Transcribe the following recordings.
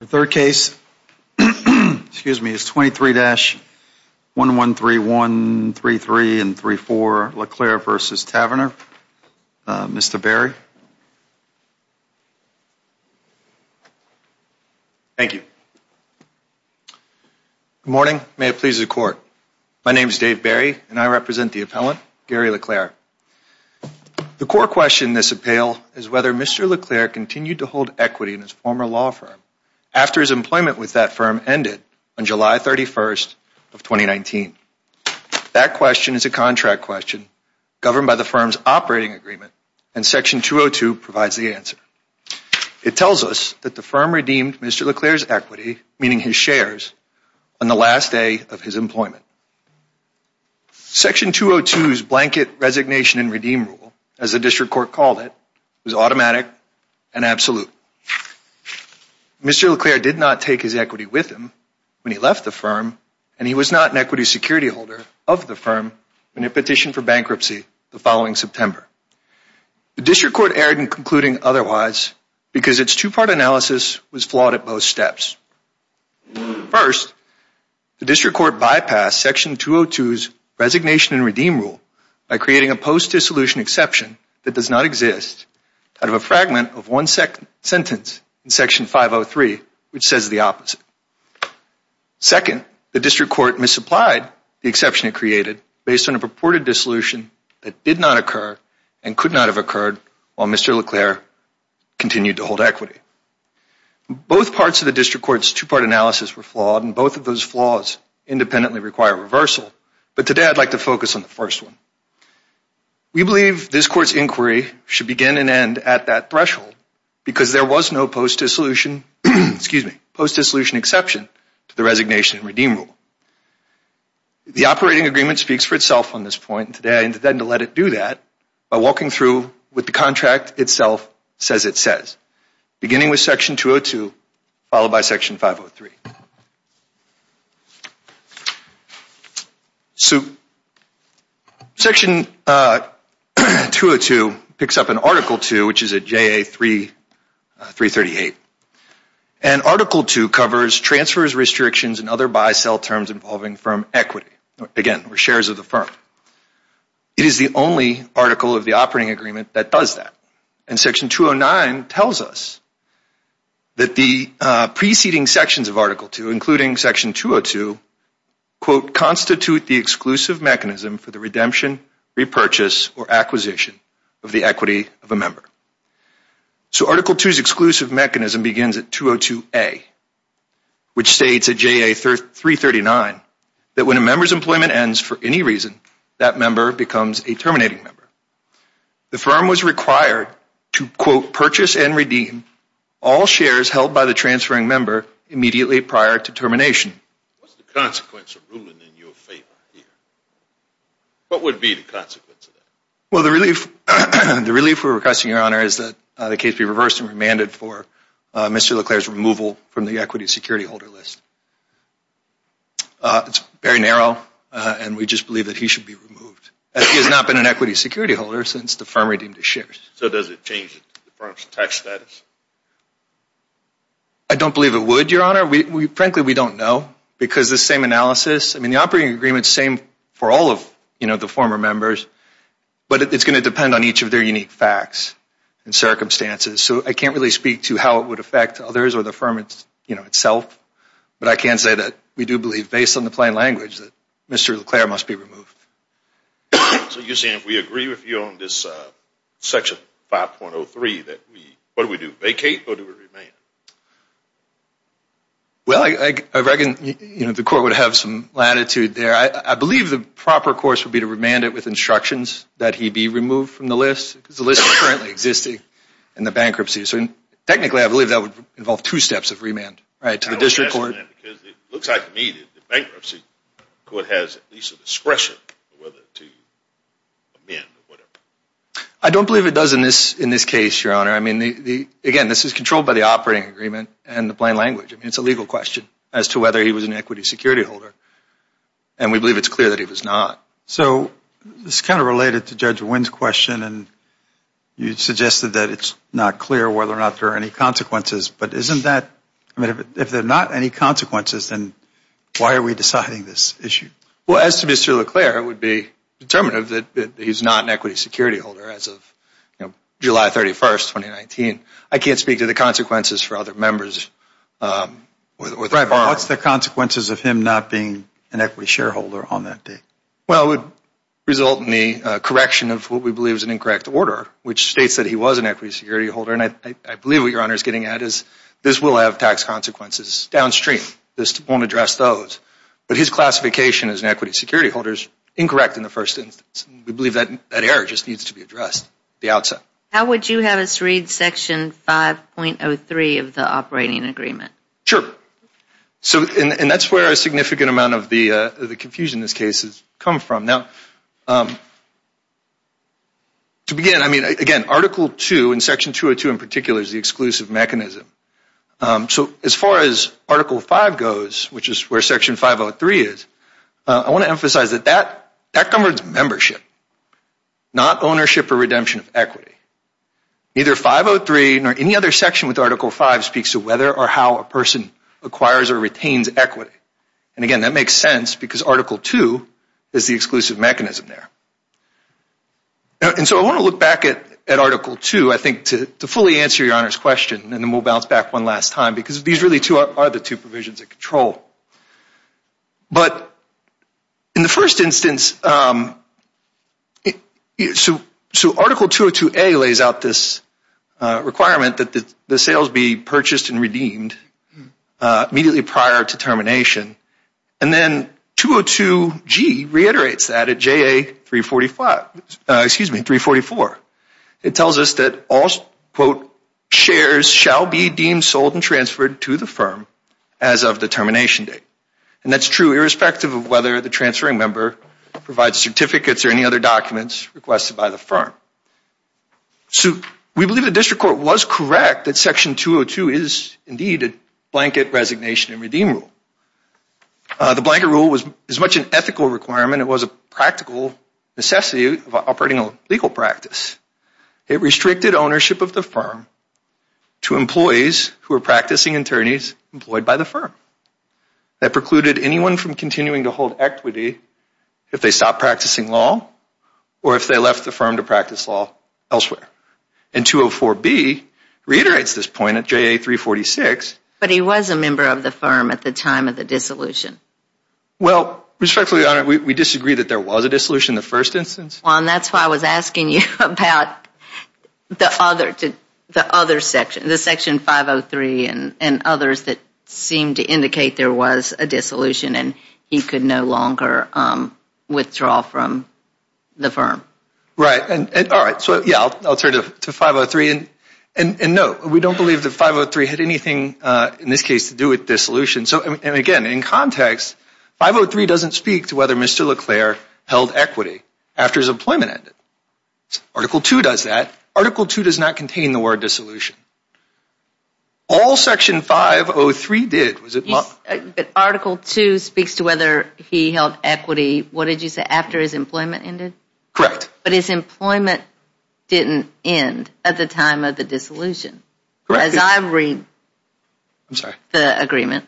The third case is 23-113133 and 3-4 LeClair v. Tavenner. Mr. LeClair. Thank you. Good morning. May it please the Court. My name is Dave LeClair and I represent the appellant Gary LeClair. The court question in this appeal is whether Mr. LeClair continued to hold equity in his former law firm after his employment with that firm ended on July 31st of 2019. That question is a contract question governed by the firm's operating agreement and Section 202 provides the answer. It tells us that the firm redeemed Mr. LeClair's equity, meaning his shares, on the last day of his employment. Section 202's blanket resignation and redeem rule, as the district court called it, was automatic and absolute. Mr. LeClair did not take his equity with him when he left the firm and he was not an equity security holder of the firm when it petitioned for bankruptcy the following September. The district court erred in concluding otherwise because its two-part analysis was flawed at both steps. First, the district court bypassed Section 202's resignation and redeem rule by creating a post-dissolution exception that does not exist out of a fragment of one sentence in Section 503 which says the opposite. Second, the district court misapplied the exception it created based on a purported dissolution that did not occur and could not have occurred while Mr. LeClair continued to hold equity. Both parts of the district court's two-part analysis were flawed and both of those flaws independently require reversal, but today I'd like to focus on the first one. We believe this court's inquiry should begin and end at that threshold because there was no post-dissolution exception to the resignation and redeem rule. The operating agreement speaks for itself on this point and today I intend to let it do that by walking through with the contract itself says it says. Beginning with Section 202 followed by Section 503. Section 202 picks up in Article 2 which is at JA 338 and Article 2 covers transfers, restrictions, and other buy-sell terms involving firm equity, again we're shares of the firm. It is the only article of the operating agreement that does that and Section 209 tells us that the preceding sections of Article 2 including Section 202 quote constitute the exclusive mechanism for the redemption, repurchase, or acquisition of the equity of a member. So Article 2's exclusive mechanism begins at 202A which states at JA 339 that when a member's employment ends for any reason that member becomes a terminating member. The firm was required to quote purchase and redeem all shares held by the transferring member immediately prior to termination. What's the consequence of ruling in your favor here? What would be the consequence of that? Well the relief we're requesting your honor is that the case be reversed and remanded for Mr. Leclerc's removal from the equity security holder list. It's very narrow and we just believe that he should be removed as he has not been an equity security holder since the firm redeemed his shares. So does it change the firm's tax status? I don't believe it would your honor. Frankly we don't know because the same analysis, I mean the operating agreement is the same for all of the former members but it's going to depend on each of their unique facts and circumstances. So I can't really speak to how it would affect others or the firm itself but I can say that we do believe based on the plain language that Mr. Leclerc must be removed. So you're saying if we agree with you on this section 5.03 that we, what do we do, vacate or do we remand? Well I reckon the court would have some latitude there. I believe the proper course would be to remand it with instructions that he be removed from the list because the list is currently existing in the bankruptcy. So technically I believe that would involve two steps of remand. I don't believe it does in this case your honor. I mean again this is controlled by the operating agreement and the plain language. It's a legal question as to whether he was an equity security holder and we believe it's clear that he was not. So this is kind of related to Judge Wynn's question and you suggested that it's not clear whether or not there are any consequences but isn't that, I mean if there are not any consequences then why are we deciding this issue? Well as to Mr. Leclerc it would be determinative that he's not an equity security holder as of July 31st, 2019. I can't speak to the consequences for other members or the firm. What's the consequences of him not being an equity shareholder on that date? Well it would result in the correction of what we believe is an incorrect order which states that he was an equity security holder and I believe what your honor is getting at is this will have tax consequences downstream. This won't address those but his classification as an equity security holder is incorrect in the first instance. We believe that error just needs to be addressed at the outset. How would you have us read section 5.03 of the operating agreement? Sure. And that's where a significant amount of the confusion in this case has come from. Now to begin I mean again article 2 and section 202 in particular is the exclusive mechanism. So as far as article 5 goes which is where section 503 is, I want to emphasize that that governs membership not ownership or redemption of equity. Neither 503 nor any other section with article 5 speaks to whether or how a person acquires or retains equity. And again that makes sense because article 2 is the exclusive mechanism there. And so I want to look back at article 2 I think to fully answer your honors question and then we'll bounce back one last time because these really are the two provisions of control. But in the first instance so article 202A lays out this requirement that the sales be purchased and redeemed immediately prior to termination. And then 202G reiterates that at JA 344. It tells us that all quote shares shall be deemed sold and transferred to the firm as of the termination date. And that's true irrespective of whether the transferring member provides certificates or any other documents requested by the firm. So we believe the district court was correct that section 202 is indeed a blanket resignation and redeem rule. The blanket rule was as much an ethical requirement. It was a practical necessity of operating a legal practice. It restricted ownership of the firm to employees who were practicing attorneys employed by the firm. That precluded anyone from continuing to hold equity if they stopped practicing law or if they left the firm to practice law elsewhere. And 204B reiterates this point at JA 346. But he was a member of the firm at the time of the dissolution. Well respectfully we disagree that there was a dissolution in the first instance. Juan, that's why I was asking you about the other section, the section 503 and others that seemed to indicate there was a dissolution and he could no longer withdraw from the firm. Right. All right. So yeah, I'll turn to 503. And no, we don't believe that 503 had anything in this case to do with dissolution. And again, in context, 503 doesn't speak to whether Mr. LeClaire held equity after his employment ended. Article 2 does that. Article 2 does not contain the word dissolution. All section 503 did. But Article 2 speaks to whether he held equity, what did you say, after his employment ended? Correct. But his employment didn't end at the time of the dissolution. Correct. I'm sorry. The agreement.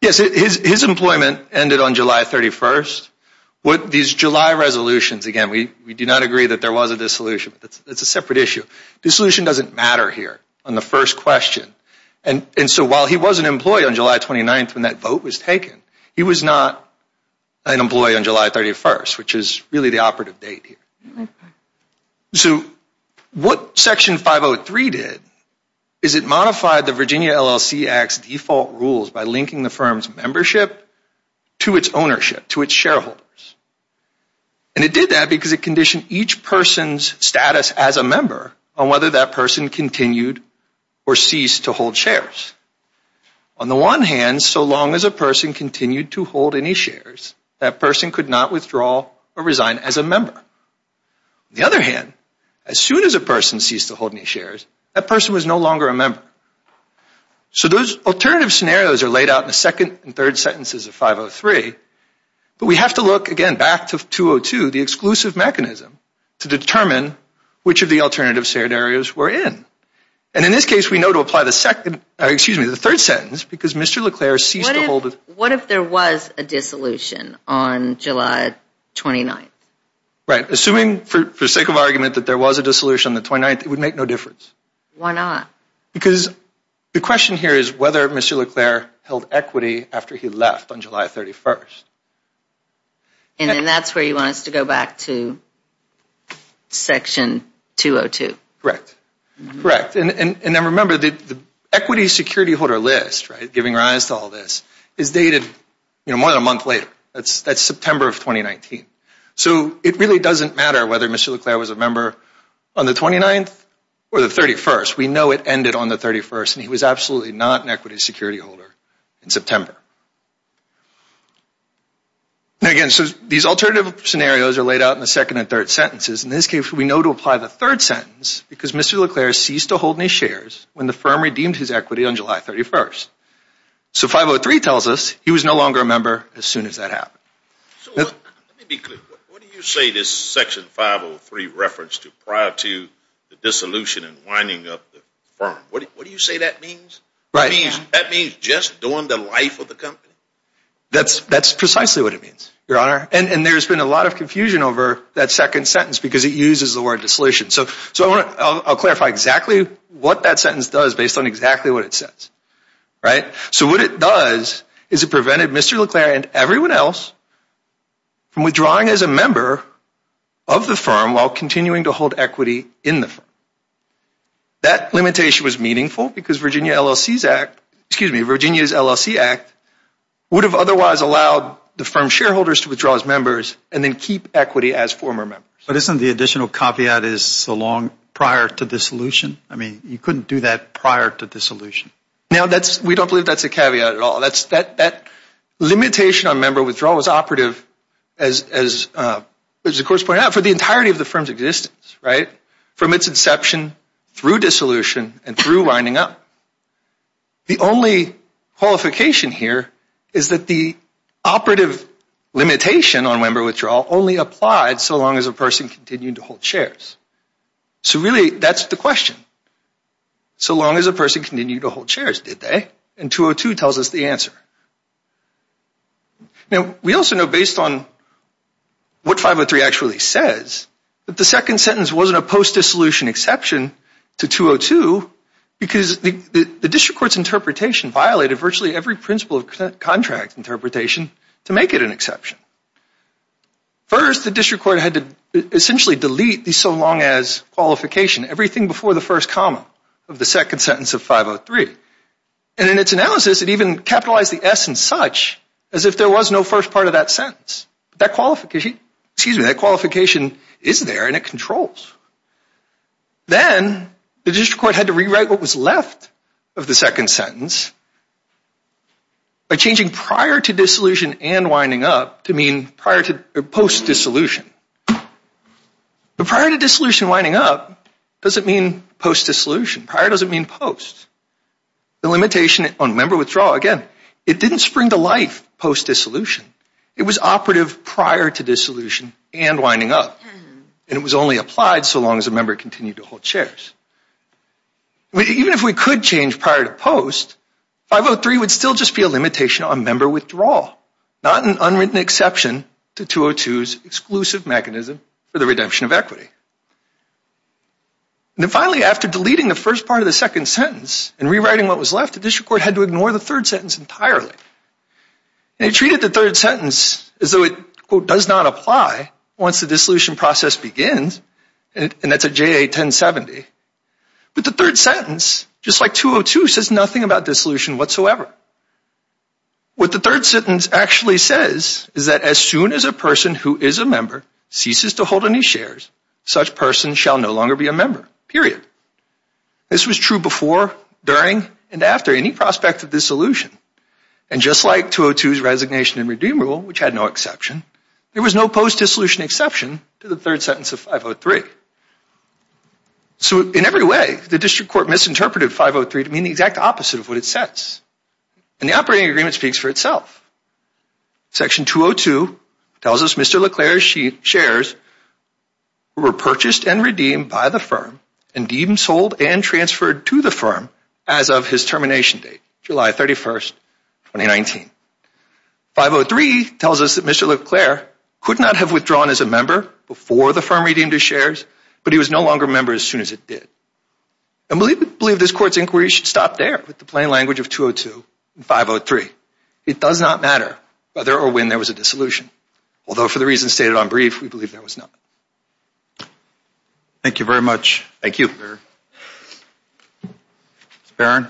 Yes, his employment ended on July 31st. These July resolutions, again, we do not agree that there was a dissolution. That's a separate issue. Dissolution doesn't matter here on the first question. And so while he was an employee on July 29th when that vote was taken, he was not an employee on July 31st, which is really the operative date here. So what section 503 did is it modified the Virginia LLC Act's default rules by linking the firm's membership to its ownership, to its shareholders. And it did that because it conditioned each person's status as a member on whether that person continued or ceased to hold shares. On the one hand, so long as a person continued to hold any shares, that person could not withdraw or resign as a member. On the other hand, as soon as a person ceased to hold any shares, that person was no longer a member. So those alternative scenarios are laid out in the second and third sentences of 503. But we have to look, again, back to 202, the exclusive mechanism to determine which of the alternative shared areas we're in. And in this case, we know to apply the second, excuse me, the third sentence, because Mr. LeClair ceased to hold. What if there was a dissolution on July 29th? Right. Assuming for sake of argument that there was a dissolution on the 29th, it would make no difference. Why not? Because the question here is whether Mr. LeClair held equity after he left on July 31st. And then that's where you want us to go back to Section 202. Correct. And then remember, the equity security holder list, right, giving rise to all this, is dated more than a month later. That's September of 2019. So it really doesn't matter whether Mr. LeClair was a member on the 29th or the 31st. We know it ended on the 31st, and he was absolutely not an equity security holder in September. And again, so these alternative scenarios are laid out in the second and third sentences. In this case, we know to apply the third sentence, because Mr. LeClair ceased to hold any shares when the firm redeemed his equity on July 31st. So 503 tells us he was no longer a member as soon as that happened. Let me be clear. What do you say this Section 503 reference to prior to the dissolution and winding up the firm? What do you say that means? Right. That means just during the life of the company? That's precisely what it means, Your Honor. And there's been a lot of confusion over that second sentence because it uses the word dissolution. So I'll clarify exactly what that sentence does based on exactly what it says, right? So what it does is it prevented Mr. LeClair and everyone else from withdrawing as a member of the firm while continuing to hold equity in the firm. That limitation was meaningful because Virginia LLC's Act, excuse me, Virginia's LLC Act, would have otherwise allowed the firm's shareholders to withdraw as members and then keep equity as former members. But isn't the additional caveat is so long prior to dissolution? I mean, you couldn't do that prior to dissolution. Now, we don't believe that's a caveat at all. That limitation on member withdrawal was operative, as the Court has pointed out, for the entirety of the firm's existence, right? From its inception through dissolution and through winding up. The only qualification here is that the operative limitation on member withdrawal only applied so long as a person continued to hold shares. So really, that's the question. So long as a person continued to hold shares, did they? And 202 tells us the answer. Now, we also know based on what 503 actually says that the second sentence wasn't a post-dissolution exception to 202 because the district court's interpretation violated virtually every principle of contract interpretation to make it an exception. First, the district court had to essentially delete the so long as qualification, everything before the first comma of the second sentence of 503. And in its analysis, it even capitalized the S and such as if there was no first part of that sentence. That qualification is there and it controls. Then, the district court had to rewrite what was left of the second sentence by changing prior to dissolution and winding up to mean post-dissolution. But prior to dissolution and winding up doesn't mean post-dissolution. Prior doesn't mean post. The limitation on member withdrawal, again, it didn't spring to life post-dissolution. It was operative prior to dissolution and winding up. And it was only applied so long as a member continued to hold shares. Even if we could change prior to post, 503 would still just be a limitation on member withdrawal, not an unwritten exception to 202's exclusive mechanism for the redemption of equity. And finally, after deleting the first part of the second sentence and rewriting what was left, the district court had to ignore the third sentence entirely. And it treated the third sentence as though it, quote, does not apply once the dissolution process begins. And that's a JA 1070. But the third sentence, just like 202, says nothing about dissolution whatsoever. What the third sentence actually says is that as soon as a person who is a member ceases to hold any shares, such person shall no longer be a member, period. This was true before, during, and after any prospect of dissolution. And just like 202's resignation and redeem rule, which had no exception, there was no post-dissolution exception to the third sentence of 503. So in every way, the district court misinterpreted 503 to mean the exact opposite of what it says. And the operating agreement speaks for itself. Section 202 tells us Mr. LeClaire's shares were purchased and redeemed by the firm and even sold and transferred to the firm as of his termination date, July 31, 2019. 503 tells us that Mr. LeClaire could not have withdrawn as a member before the firm redeemed his shares, but he was no longer a member as soon as it did. And we believe this court's inquiry should stop there with the plain language of 202 and 503. It does not matter whether or when there was a dissolution, although for the reasons stated on brief, we believe there was none. Thank you very much. Thank you. Ms. Barron.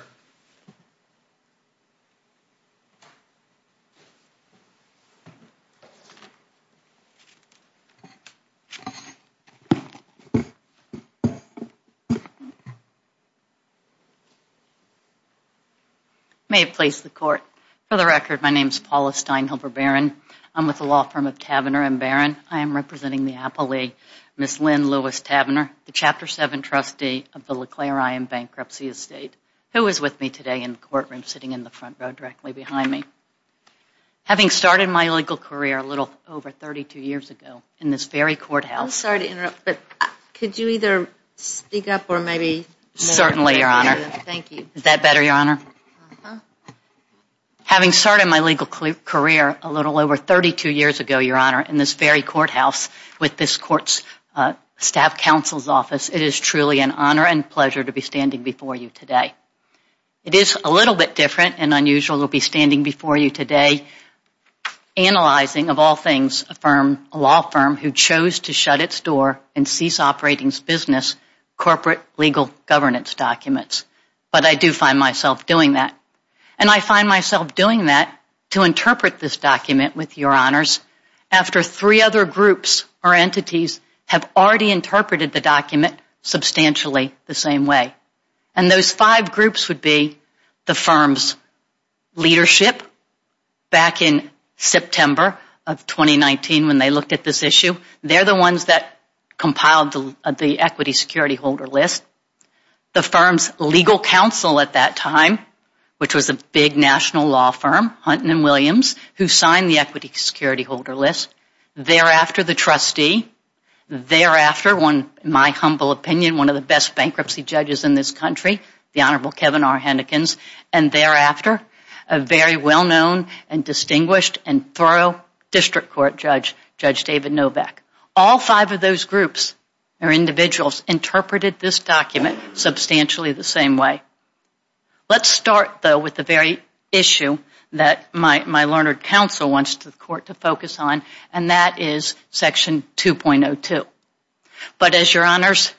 May it please the court. For the record, my name is Paula Steinhelber Barron. I'm with the law firm of Tavener and Barron. I am representing the appellee, Ms. Lynn Lewis Tavener, the Chapter 7 trustee of the LeClaire I.M. Bankruptcy Estate, who is with me today in the courtroom sitting in the front row directly behind me. Having started my legal career a little over 32 years ago in this very courthouse... I'm sorry to interrupt, but could you either speak up or maybe... Certainly, Your Honor. Thank you. Is that better, Your Honor? Uh-huh. Having started my legal career a little over 32 years ago, Your Honor, in this very courthouse with this court's staff counsel's office, it is truly an honor and pleasure to be standing before you today. It is a little bit different and unusual to be standing before you today analyzing, of all things, a firm, a law firm, who chose to shut its door and cease operating its business, corporate legal governance documents. But I do find myself doing that. And I find myself doing that to interpret this document with Your Honors after three other groups or entities have already interpreted the document substantially the same way. And those five groups would be the firm's leadership back in September of 2019 when they looked at this issue. They're the ones that compiled the equity security holder list. The firm's legal counsel at that time, which was a big national law firm, Hunt and Williams, who signed the equity security holder list. Thereafter, the trustee. Thereafter, in my humble opinion, one of the best bankruptcy judges in this country, the Honorable Kevin R. Hennekins. And thereafter, a very well-known and distinguished and thorough district court judge, Judge David Novak. All five of those groups or individuals interpreted this document substantially the same way. Let's start, though, with the very issue that my learned counsel wants the court to focus on, and that is Section 2.02. But as Your Honors,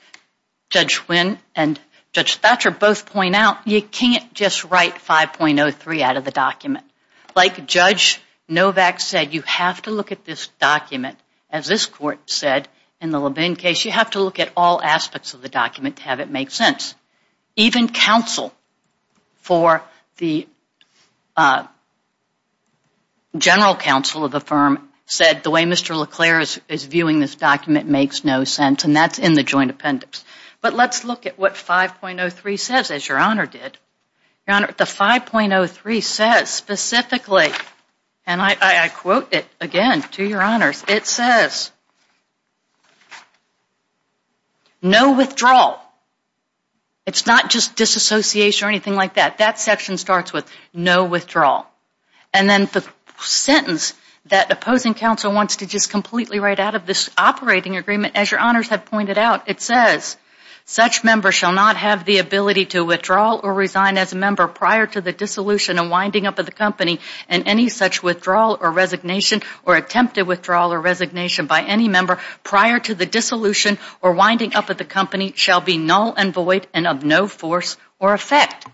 Judge Wynn and Judge Thatcher both point out, you can't just write 5.03 out of the document. Like Judge Novak said, you have to look at this document, as this court said in the Levin case, you have to look at all aspects of the document to have it make sense. Even counsel for the general counsel of the firm said, the way Mr. LeClair is viewing this document makes no sense, and that's in the joint appendix. But let's look at what 5.03 says, as Your Honor did. Your Honor, the 5.03 says specifically, and I quote it again to Your Honors, it says, no withdrawal. It's not just disassociation or anything like that. That section starts with no withdrawal. And then the sentence that opposing counsel wants to just completely write out of this operating agreement, as Your Honors have pointed out, it says, such members shall not have the ability to withdraw or resign as a member prior to the dissolution and winding up of the company, and any such withdrawal or resignation or attempted withdrawal or resignation by any member prior to the dissolution or winding up of the company shall be null and void and of no force or effect.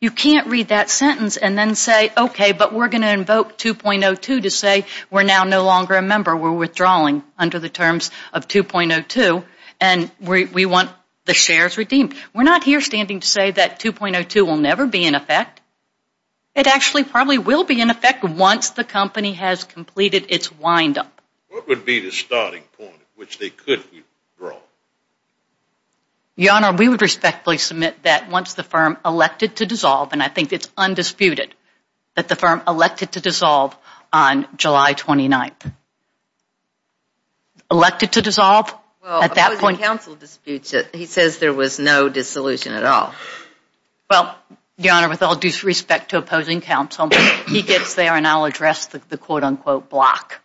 You can't read that sentence and then say, okay, but we're going to invoke 2.02 to say we're now no longer a member. We're withdrawing under the terms of 2.02, and we want the shares redeemed. We're not here standing to say that 2.02 will never be in effect. It actually probably will be in effect once the company has completed its windup. What would be the starting point at which they could withdraw? Your Honor, we would respectfully submit that once the firm elected to dissolve, and I think it's undisputed that the firm elected to dissolve on July 29th. Elected to dissolve? Well, opposing counsel disputes it. He says there was no dissolution at all. Well, Your Honor, with all due respect to opposing counsel, he gets there and I'll address the quote-unquote block.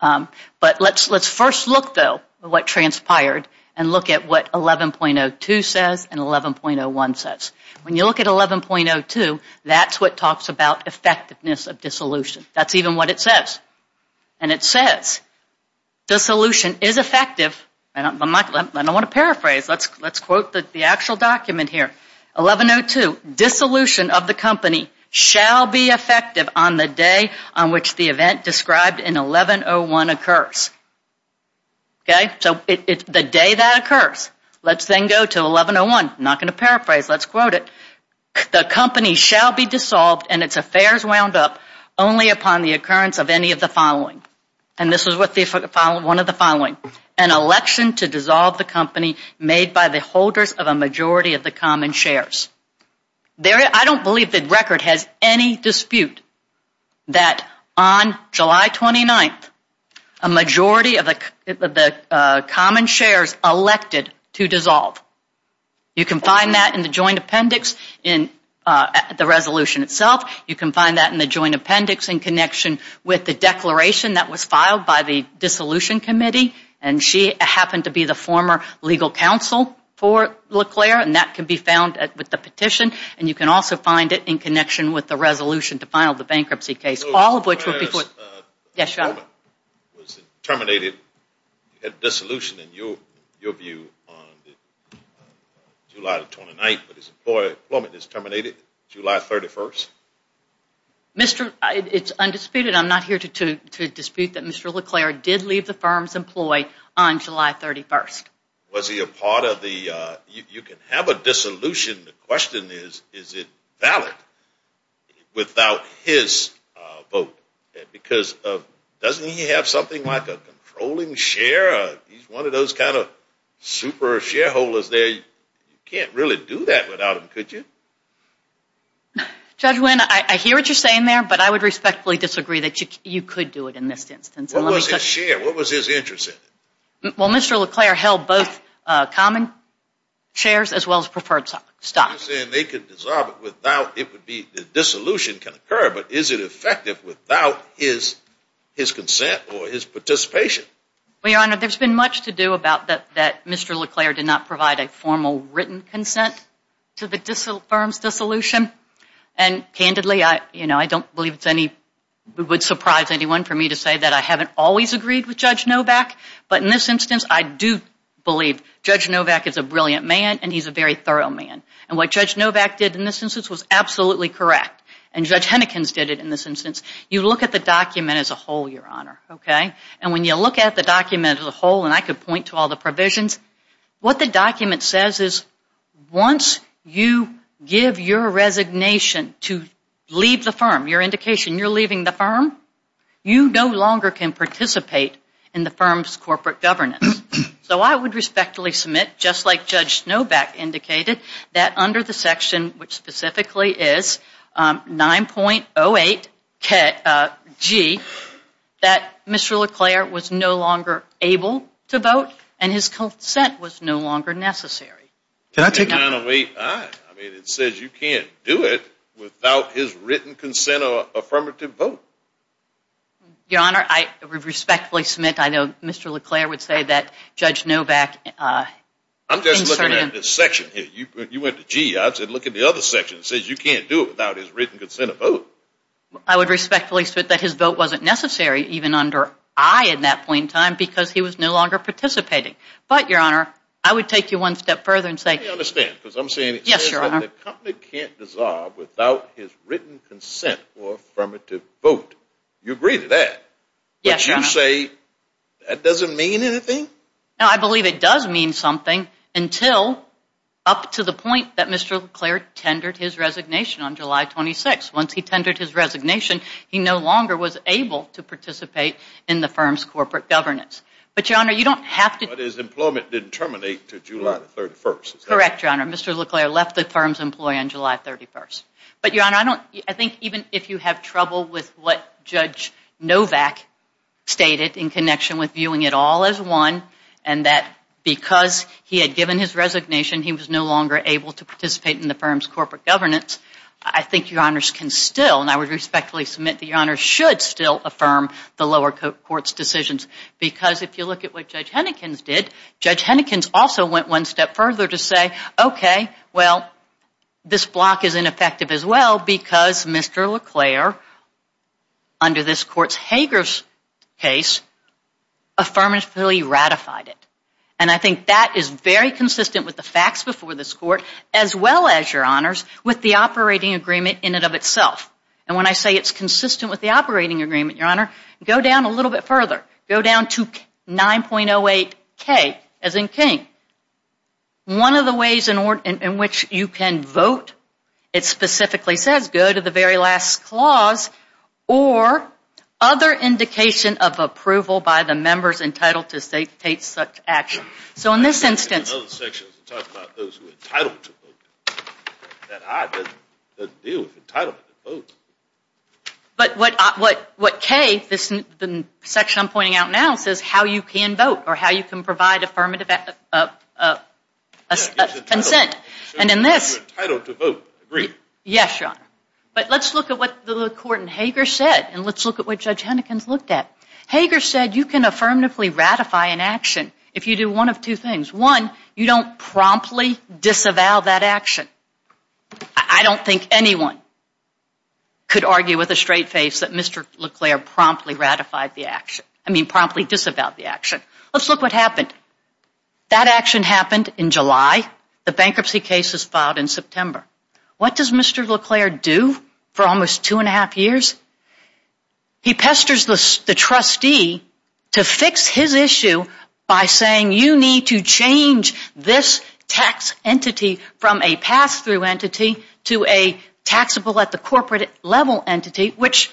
But let's first look, though, at what transpired and look at what 11.02 says and 11.01 says. When you look at 11.02, that's what talks about effectiveness of dissolution. That's even what it says. And it says, dissolution is effective. I don't want to paraphrase. Let's quote the actual document here. 11.02, dissolution of the company shall be effective on the day on which the event described in 11.01 occurs. So the day that occurs, let's then go to 11.01. I'm not going to paraphrase. Let's quote it. The company shall be dissolved and its affairs wound up only upon the occurrence of any of the following. And this is one of the following. An election to dissolve the company made by the holders of a majority of the common shares. I don't believe the record has any dispute that on July 29th, a majority of the common shares elected to dissolve. You can find that in the joint appendix in the resolution itself. You can find that in the joint appendix in connection with the declaration that was filed by the dissolution committee. And she happened to be the former legal counsel for LeClaire. And that can be found with the petition. And you can also find it in connection with the resolution to file the bankruptcy case. All of which were before. Yes, John? Was it terminated at dissolution in your view on July 29th, but his employment is terminated July 31st? It's undisputed. I'm not here to dispute that Mr. LeClaire did leave the firm's employee on July 31st. Was he a part of the – you can have a dissolution. The question is, is it valid without his vote? Because doesn't he have something like a controlling share? He's one of those kind of super shareholders there. You can't really do that without him, could you? Judge Wynn, I hear what you're saying there, but I would respectfully disagree that you could do it in this instance. What was his share? What was his interest in it? Well, Mr. LeClaire held both common shares as well as preferred stocks. You're saying they could dissolve it without – it would be – his consent or his participation. Well, Your Honor, there's been much to do about that Mr. LeClaire did not provide a formal written consent to the firm's dissolution. And candidly, I don't believe it's any – it would surprise anyone for me to say that I haven't always agreed with Judge Novak. But in this instance, I do believe Judge Novak is a brilliant man and he's a very thorough man. And what Judge Novak did in this instance was absolutely correct. And Judge Hennekins did it in this instance. You look at the document as a whole, Your Honor, okay? And when you look at the document as a whole, and I could point to all the provisions, what the document says is once you give your resignation to leave the firm, your indication you're leaving the firm, you no longer can participate in the firm's corporate governance. So I would respectfully submit, just like Judge Novak indicated, that under the section, which specifically is 9.08G, that Mr. LeClaire was no longer able to vote and his consent was no longer necessary. Can I take that? I mean, it says you can't do it without his written consent or affirmative vote. Your Honor, I respectfully submit, I know Mr. LeClaire would say that Judge Novak – I'm just looking at this section here. You went to G. I said look at the other section. It says you can't do it without his written consent to vote. I would respectfully submit that his vote wasn't necessary, even under I at that point in time, because he was no longer participating. But, Your Honor, I would take you one step further and say – Let me understand, because I'm saying it says that the company can't dissolve without his written consent or affirmative vote. You agree to that? Yes, Your Honor. But you say that doesn't mean anything? No, I believe it does mean something, until up to the point that Mr. LeClaire tendered his resignation on July 26th. Once he tendered his resignation, he no longer was able to participate in the firm's corporate governance. But, Your Honor, you don't have to – But his employment didn't terminate until July 31st? Correct, Your Honor. Mr. LeClaire left the firm's employ on July 31st. But, Your Honor, I don't – I think even if you have trouble with what Judge Novak stated in connection with viewing it all as one, and that because he had given his resignation, he was no longer able to participate in the firm's corporate governance, I think Your Honors can still – and I would respectfully submit that Your Honors should still affirm the lower court's decisions. Because if you look at what Judge Hennekins did, Judge Hennekins also went one step further to say, okay, well, this block is ineffective as well because Mr. LeClaire, under this court's Hager case, affirmatively ratified it. And I think that is very consistent with the facts before this court as well as, Your Honors, with the operating agreement in and of itself. And when I say it's consistent with the operating agreement, Your Honor, go down a little bit further. Go down to 9.08K, as in King. One of the ways in which you can vote, it specifically says go to the very last clause or other indication of approval by the members entitled to state such action. So in this instance – In other sections it talks about those who are entitled to vote. That I doesn't deal with entitlement to vote. But what K, the section I'm pointing out now, says how you can vote or how you can provide affirmative consent. And in this – Entitled to vote, I agree. Yes, Your Honor. But let's look at what the court in Hager said and let's look at what Judge Hennekins looked at. Hager said you can affirmatively ratify an action if you do one of two things. One, you don't promptly disavow that action. I don't think anyone could argue with a straight face that Mr. LeClaire promptly ratified the action, I mean promptly disavowed the action. Let's look what happened. That action happened in July. The bankruptcy case was filed in September. What does Mr. LeClaire do for almost two and a half years? He pesters the trustee to fix his issue by saying you need to change this tax entity from a pass-through entity to a taxable at the corporate level entity, which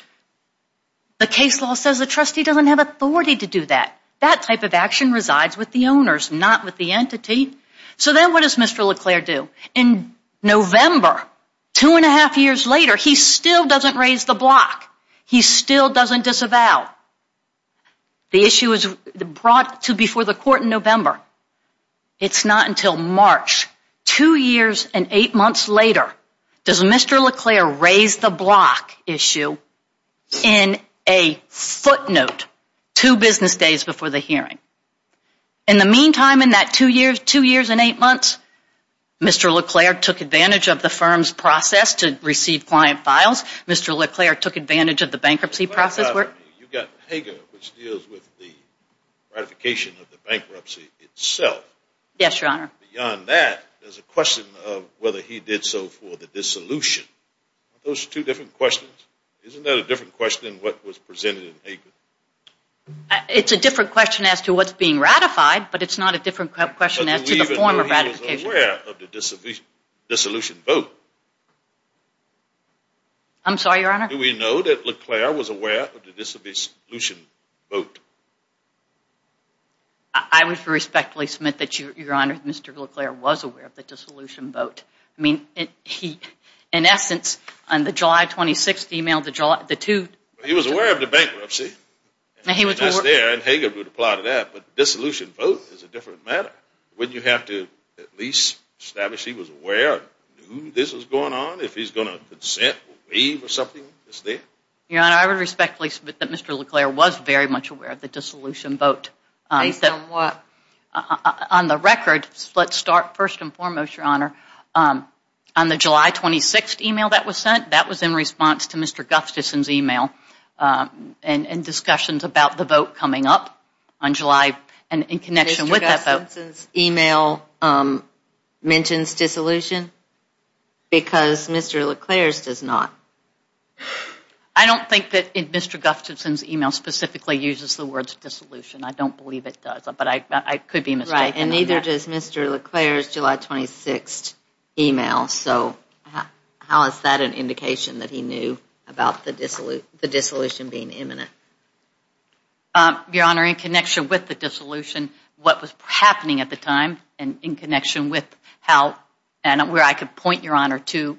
the case law says the trustee doesn't have authority to do that. That type of action resides with the owners, not with the entity. So then what does Mr. LeClaire do? In November, two and a half years later, he still doesn't raise the block. He still doesn't disavow. The issue is brought to before the court in November. It's not until March, two years and eight months later, does Mr. LeClaire raise the block issue in a footnote two business days before the hearing. In the meantime, in that two years and eight months, Mr. LeClaire took advantage of the firm's process to receive client files. Mr. LeClaire took advantage of the bankruptcy process. You've got Hager, which deals with the ratification of the bankruptcy itself. Yes, Your Honor. Beyond that, there's a question of whether he did so for the dissolution. Aren't those two different questions? Isn't that a different question than what was presented in Hager? It's a different question as to what's being ratified, but it's not a different question as to the form of ratification. Did we even know he was aware of the dissolution vote? I'm sorry, Your Honor? Do we know that LeClaire was aware of the dissolution vote? I would respectfully submit that, Your Honor, Mr. LeClaire was aware of the dissolution vote. I mean, in essence, on the July 26th email, the two… He was aware of the bankruptcy, and Hager would apply to that, but the dissolution vote is a different matter. Wouldn't you have to at least establish he was aware of who this was going on, if he's going to consent or waive or something? Your Honor, I would respectfully submit that Mr. LeClaire was very much aware of the dissolution vote. Based on what? On the record, let's start first and foremost, Your Honor. On the July 26th email that was sent, that was in response to Mr. Gustafson's email and discussions about the vote coming up on July and in connection with that vote. Mr. Gustafson's email mentions dissolution? Because Mr. LeClaire's does not. I don't think that Mr. Gustafson's email specifically uses the words dissolution. I don't believe it does, but I could be mistaken on that. It is Mr. LeClaire's July 26th email, so how is that an indication that he knew about the dissolution being imminent? Your Honor, in connection with the dissolution, what was happening at the time and in connection with how and where I could point Your Honor to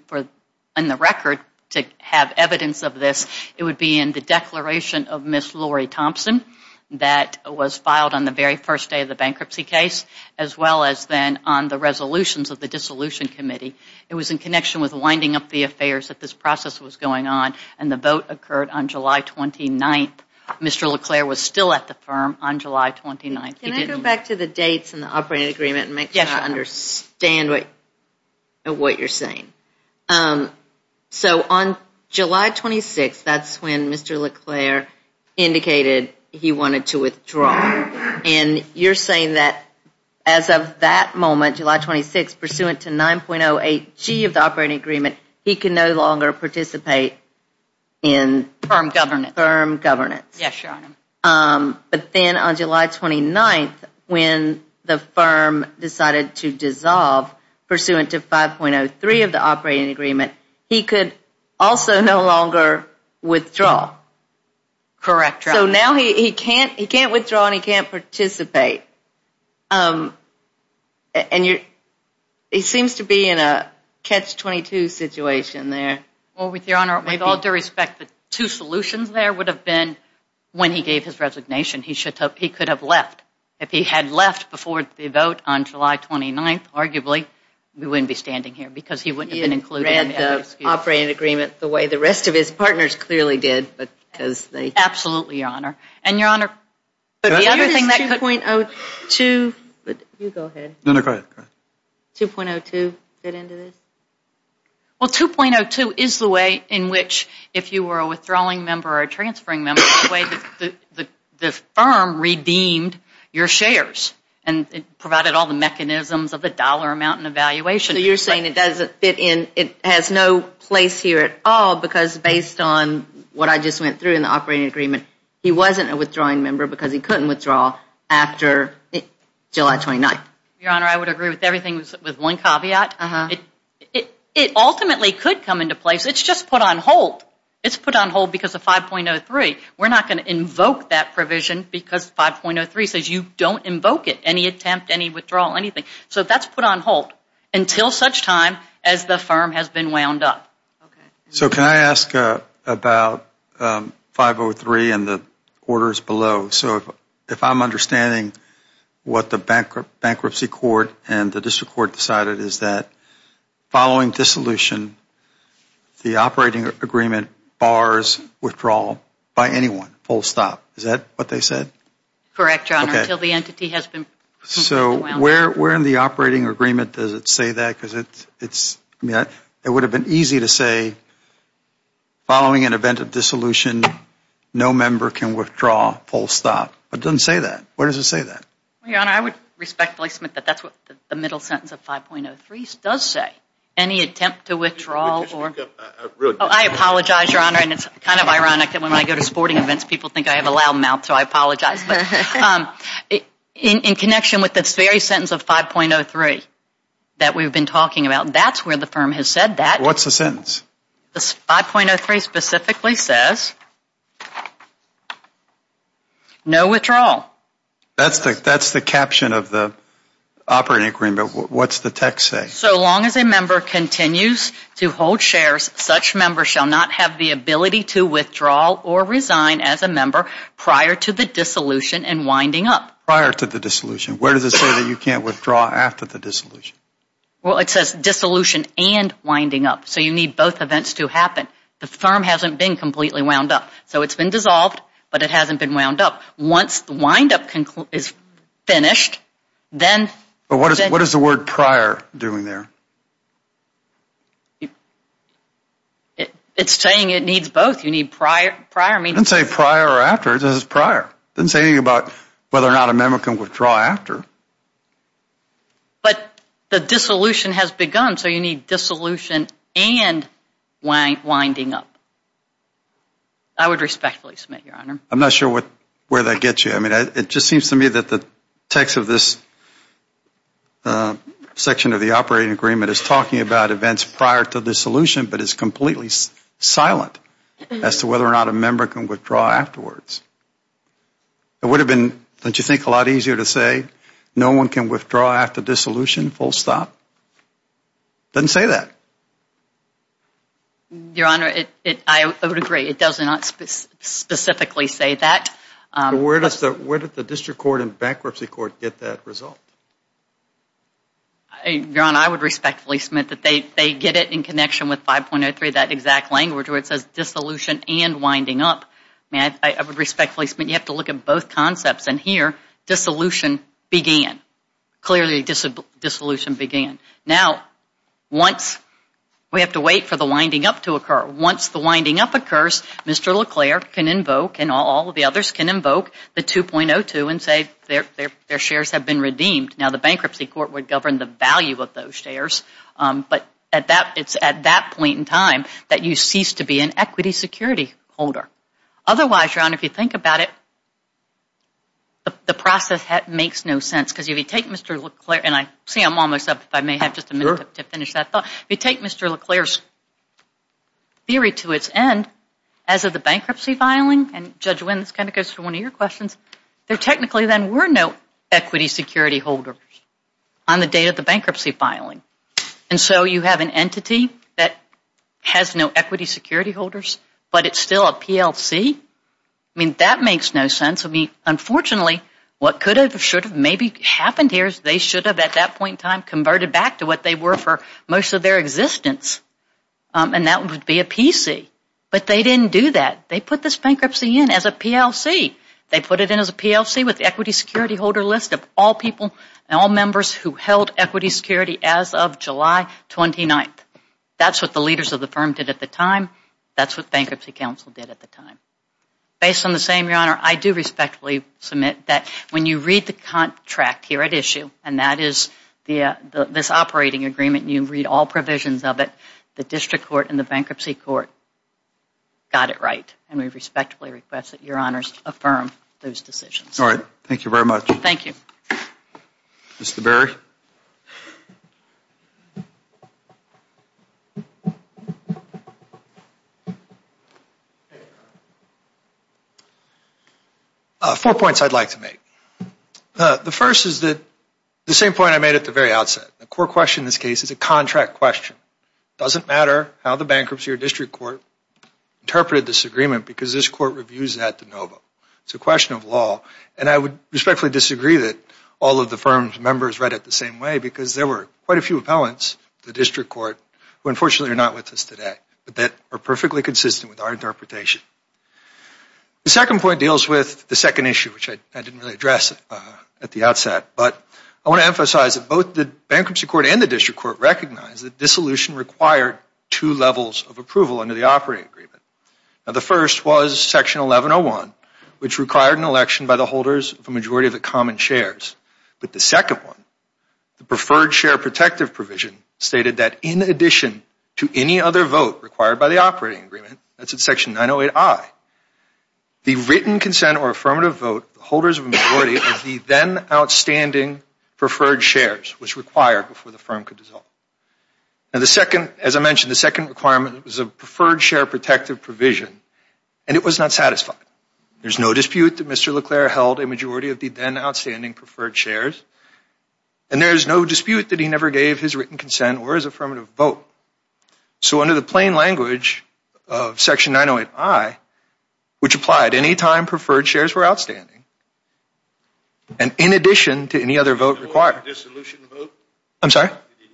in the record to have evidence of this, it would be in the declaration of Ms. Lori Thompson that was filed on the very first day of the bankruptcy case as well as then on the resolutions of the dissolution committee. It was in connection with winding up the affairs that this process was going on and the vote occurred on July 29th. Mr. LeClaire was still at the firm on July 29th. Can I go back to the dates and the operating agreement and make sure I understand what you're saying? So on July 26th, that's when Mr. LeClaire indicated he wanted to withdraw. And you're saying that as of that moment, July 26th, pursuant to 9.08G of the operating agreement, he can no longer participate in firm governance. Yes, Your Honor. But then on July 29th, when the firm decided to dissolve, pursuant to 5.03 of the operating agreement, he could also no longer withdraw. Correct, Your Honor. So now he can't withdraw and he can't participate. He seems to be in a catch-22 situation there. With all due respect, the two solutions there would have been when he gave his resignation, he could have left. If he had left before the vote on July 29th, arguably, we wouldn't be standing here because he wouldn't have been included. He had read the operating agreement the way the rest of his partners clearly did. Absolutely, Your Honor. And, Your Honor, the other thing that could... 2.02. You go ahead. No, no, go ahead. 2.02 fit into this? Well, 2.02 is the way in which if you were a withdrawing member or a transferring member, the firm redeemed your shares and provided all the mechanisms of the dollar amount and evaluation. So you're saying it has no place here at all because, based on what I just went through in the operating agreement, he wasn't a withdrawing member because he couldn't withdraw after July 29th. Your Honor, I would agree with everything with one caveat. It ultimately could come into place. It's just put on hold. It's put on hold because of 5.03. We're not going to invoke that provision because 5.03 says you don't invoke it, any attempt, any withdrawal, anything. So that's put on hold until such time as the firm has been wound up. Okay. So can I ask about 5.03 and the orders below? So if I'm understanding what the bankruptcy court and the district court decided is that following dissolution, the operating agreement bars withdrawal by anyone, full stop. Is that what they said? Correct, Your Honor, until the entity has been wound up. So where in the operating agreement does it say that? Because it would have been easy to say following an event of dissolution, no member can withdraw full stop. It doesn't say that. Where does it say that? Well, Your Honor, I would respectfully submit that that's what the middle sentence of 5.03 does say, any attempt to withdrawal. I apologize, Your Honor, and it's kind of ironic that when I go to sporting events, people think I have a loud mouth, so I apologize. In connection with this very sentence of 5.03 that we've been talking about, that's where the firm has said that. What's the sentence? 5.03 specifically says no withdrawal. That's the caption of the operating agreement. What's the text say? So long as a member continues to hold shares, such members shall not have the ability to withdraw or resign as a member prior to the dissolution and winding up. Prior to the dissolution. Where does it say that you can't withdraw after the dissolution? Well, it says dissolution and winding up. So you need both events to happen. The firm hasn't been completely wound up. So it's been dissolved, but it hasn't been wound up. Once the windup is finished, then. But what is the word prior doing there? It's saying it needs both. You need prior. It doesn't say prior or after. It says prior. It doesn't say anything about whether or not a member can withdraw after. But the dissolution has begun, so you need dissolution and winding up. I would respectfully submit, Your Honor. I'm not sure where that gets you. It just seems to me that the text of this section of the operating agreement is talking about events prior to dissolution, but it's completely silent as to whether or not a member can withdraw afterwards. It would have been, don't you think, a lot easier to say no one can withdraw after dissolution, full stop. It doesn't say that. Your Honor, I would agree. It does not specifically say that. But where does the district court and bankruptcy court get that result? Your Honor, I would respectfully submit that they get it in connection with 5.03, that exact language where it says dissolution and winding up. I would respectfully submit you have to look at both concepts. And here, dissolution began. Clearly, dissolution began. Now, we have to wait for the winding up to occur. Once the winding up occurs, Mr. LeClair can invoke, and all of the others can invoke, the 2.02 and say their shares have been redeemed. Now, the bankruptcy court would govern the value of those shares, but it's at that point in time that you cease to be an equity security holder. Otherwise, Your Honor, if you think about it, the process makes no sense. Because if you take Mr. LeClair, and I see I'm almost up, if I may have just a minute to finish that thought. If you take Mr. LeClair's theory to its end, as of the bankruptcy filing, and Judge Wynn, this kind of goes to one of your questions, there technically then were no equity security holders on the day of the bankruptcy filing. And so you have an entity that has no equity security holders, but it's still a PLC? I mean, that makes no sense. I mean, unfortunately, what could have, should have maybe happened here is they should have, at that point in time, converted back to what they were for most of their existence. And that would be a PC. But they didn't do that. They put this bankruptcy in as a PLC. They put it in as a PLC with equity security holder list of all people and all members who held equity security as of July 29th. That's what the leaders of the firm did at the time. That's what Bankruptcy Council did at the time. Based on the same, Your Honor, I do respectfully submit that when you read the contract here at issue, and that is this operating agreement, and you read all provisions of it, the district court and the bankruptcy court got it right. And we respectfully request that Your Honors affirm those decisions. All right. Thank you very much. Thank you. Mr. Berry? Four points I'd like to make. The first is the same point I made at the very outset. The core question in this case is a contract question. It doesn't matter how the bankruptcy or district court interpreted this agreement because this court reviews that de novo. It's a question of law. And I would respectfully disagree that all of the firm's members read it the same way because there were quite a few appellants to the district court who, unfortunately, are not with us today but that are perfectly consistent with our interpretation. The second point deals with the second issue, which I didn't really address at the outset. But I want to emphasize that both the bankruptcy court and the district court recognized that dissolution required two levels of approval under the operating agreement. Now, the first was Section 1101, which required an election by the holders of a majority of the common shares. But the second one, the preferred share protective provision, stated that in addition to any other vote required by the operating agreement, that's in Section 908I, the written consent or affirmative vote, the holders of a majority of the then outstanding preferred shares, was required before the firm could dissolve. Now, as I mentioned, the second requirement was a preferred share protective provision, and it was not satisfied. There's no dispute that Mr. Leclerc held a majority of the then outstanding preferred shares, and there's no dispute that he never gave his written consent or his affirmative vote. So under the plain language of Section 908I, which applied any time preferred shares were outstanding, and in addition to any other vote required. The note of the dissolution vote? I'm sorry?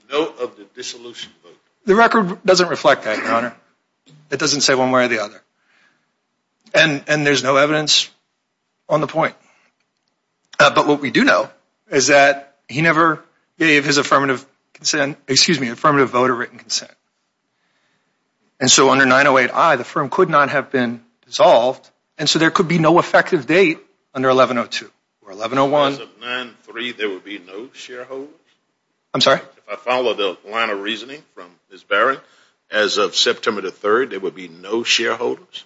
The note of the dissolution vote. The record doesn't reflect that, Your Honor. It doesn't say one way or the other. And there's no evidence on the point. But what we do know is that he never gave his affirmative vote a written consent. And so under 908I, the firm could not have been dissolved, and so there could be no effective date under 1102 or 1101. As of 9-3, there would be no shareholders? I'm sorry? If I follow the line of reasoning from Ms. Barron, as of September 3, there would be no shareholders?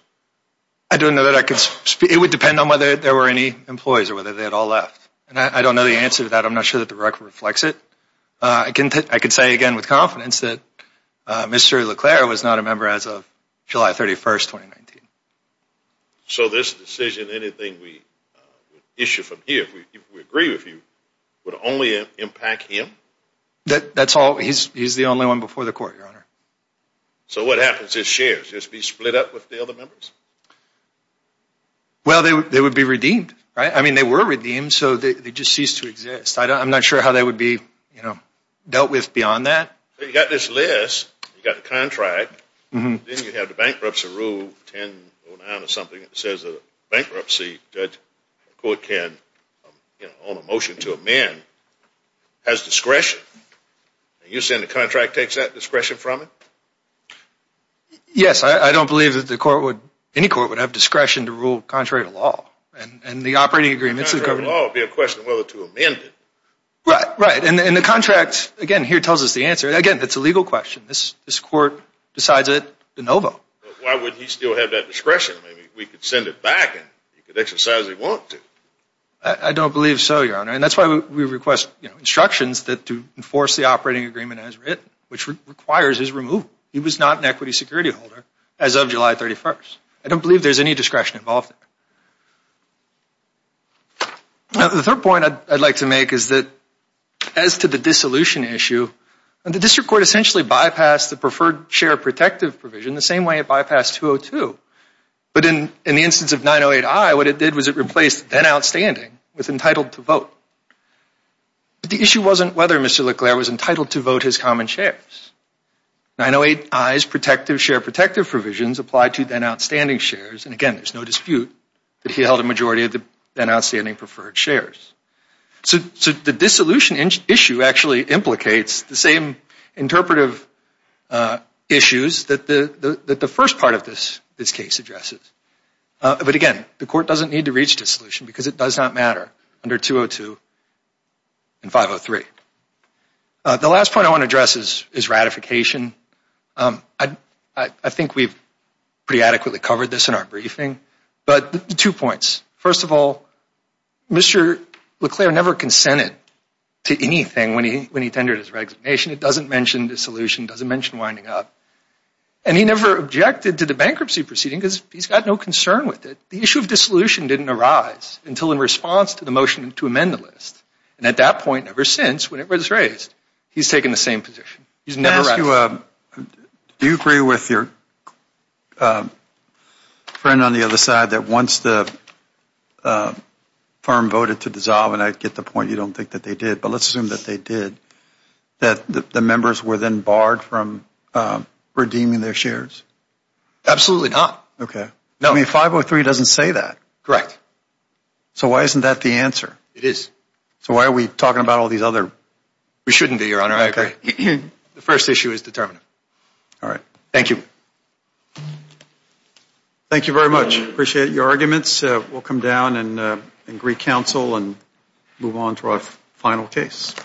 I don't know that I can speak. It would depend on whether there were any employees or whether they had all left. And I don't know the answer to that. I'm not sure that the record reflects it. I can say again with confidence that Mr. Leclerc was not a member as of July 31, 2019. So this decision, anything we issue from here, we agree with you, would only impact him? That's all. He's the only one before the court, Your Honor. So what happens? His shares just be split up with the other members? Well, they would be redeemed, right? I mean, they were redeemed, so they just ceased to exist. I'm not sure how they would be dealt with beyond that. You've got this list. You've got the contract. Then you have the bankruptcy rule, 1009 or something, that says a bankruptcy judge can, on a motion to amend, has discretion. And you're saying the contract takes that discretion from it? Yes. I don't believe that the court would, any court would have discretion to rule contrary to law. And the operating agreements of the government… Contrary to law would be a question of whether to amend it. Right, right. And the contract, again, here tells us the answer. Again, it's a legal question. This court decides it de novo. Why would he still have that discretion? We could send it back and he could exercise it if he wanted to. I don't believe so, Your Honor. And that's why we request instructions to enforce the operating agreement as written, which requires his removal. He was not an equity security holder as of July 31st. I don't believe there's any discretion involved. The third point I'd like to make is that as to the dissolution issue, the district court essentially bypassed the preferred share protective provision the same way it bypassed 202. But in the instance of 908I, what it did was it replaced then outstanding with entitled to vote. But the issue wasn't whether Mr. LeClaire was entitled to vote his common shares. 908I's protective share protective provisions applied to then outstanding shares. And, again, there's no dispute that he held a majority of the then outstanding preferred shares. So the dissolution issue actually implicates the same interpretive issues that the first part of this case addresses. But, again, the court doesn't need to reach dissolution because it does not matter under 202 and 503. The last point I want to address is ratification. I think we've pretty adequately covered this in our briefing. But two points. First of all, Mr. LeClaire never consented to anything when he tendered his resignation. It doesn't mention dissolution. It doesn't mention winding up. And he never objected to the bankruptcy proceeding because he's got no concern with it. The issue of dissolution didn't arise until in response to the motion to amend the list. And at that point, ever since, when it was raised, he's taken the same position. He's never raised it. Do you agree with your friend on the other side that once the firm voted to dissolve, and I get the point you don't think that they did, but let's assume that they did, that the members were then barred from redeeming their shares? Absolutely not. Okay. 503 doesn't say that. Correct. So why isn't that the answer? It is. So why are we talking about all these other? We shouldn't be, Your Honor. I agree. The first issue is determinative. All right. Thank you. Thank you very much. Appreciate your arguments. We'll come down and greet counsel and move on to our final case.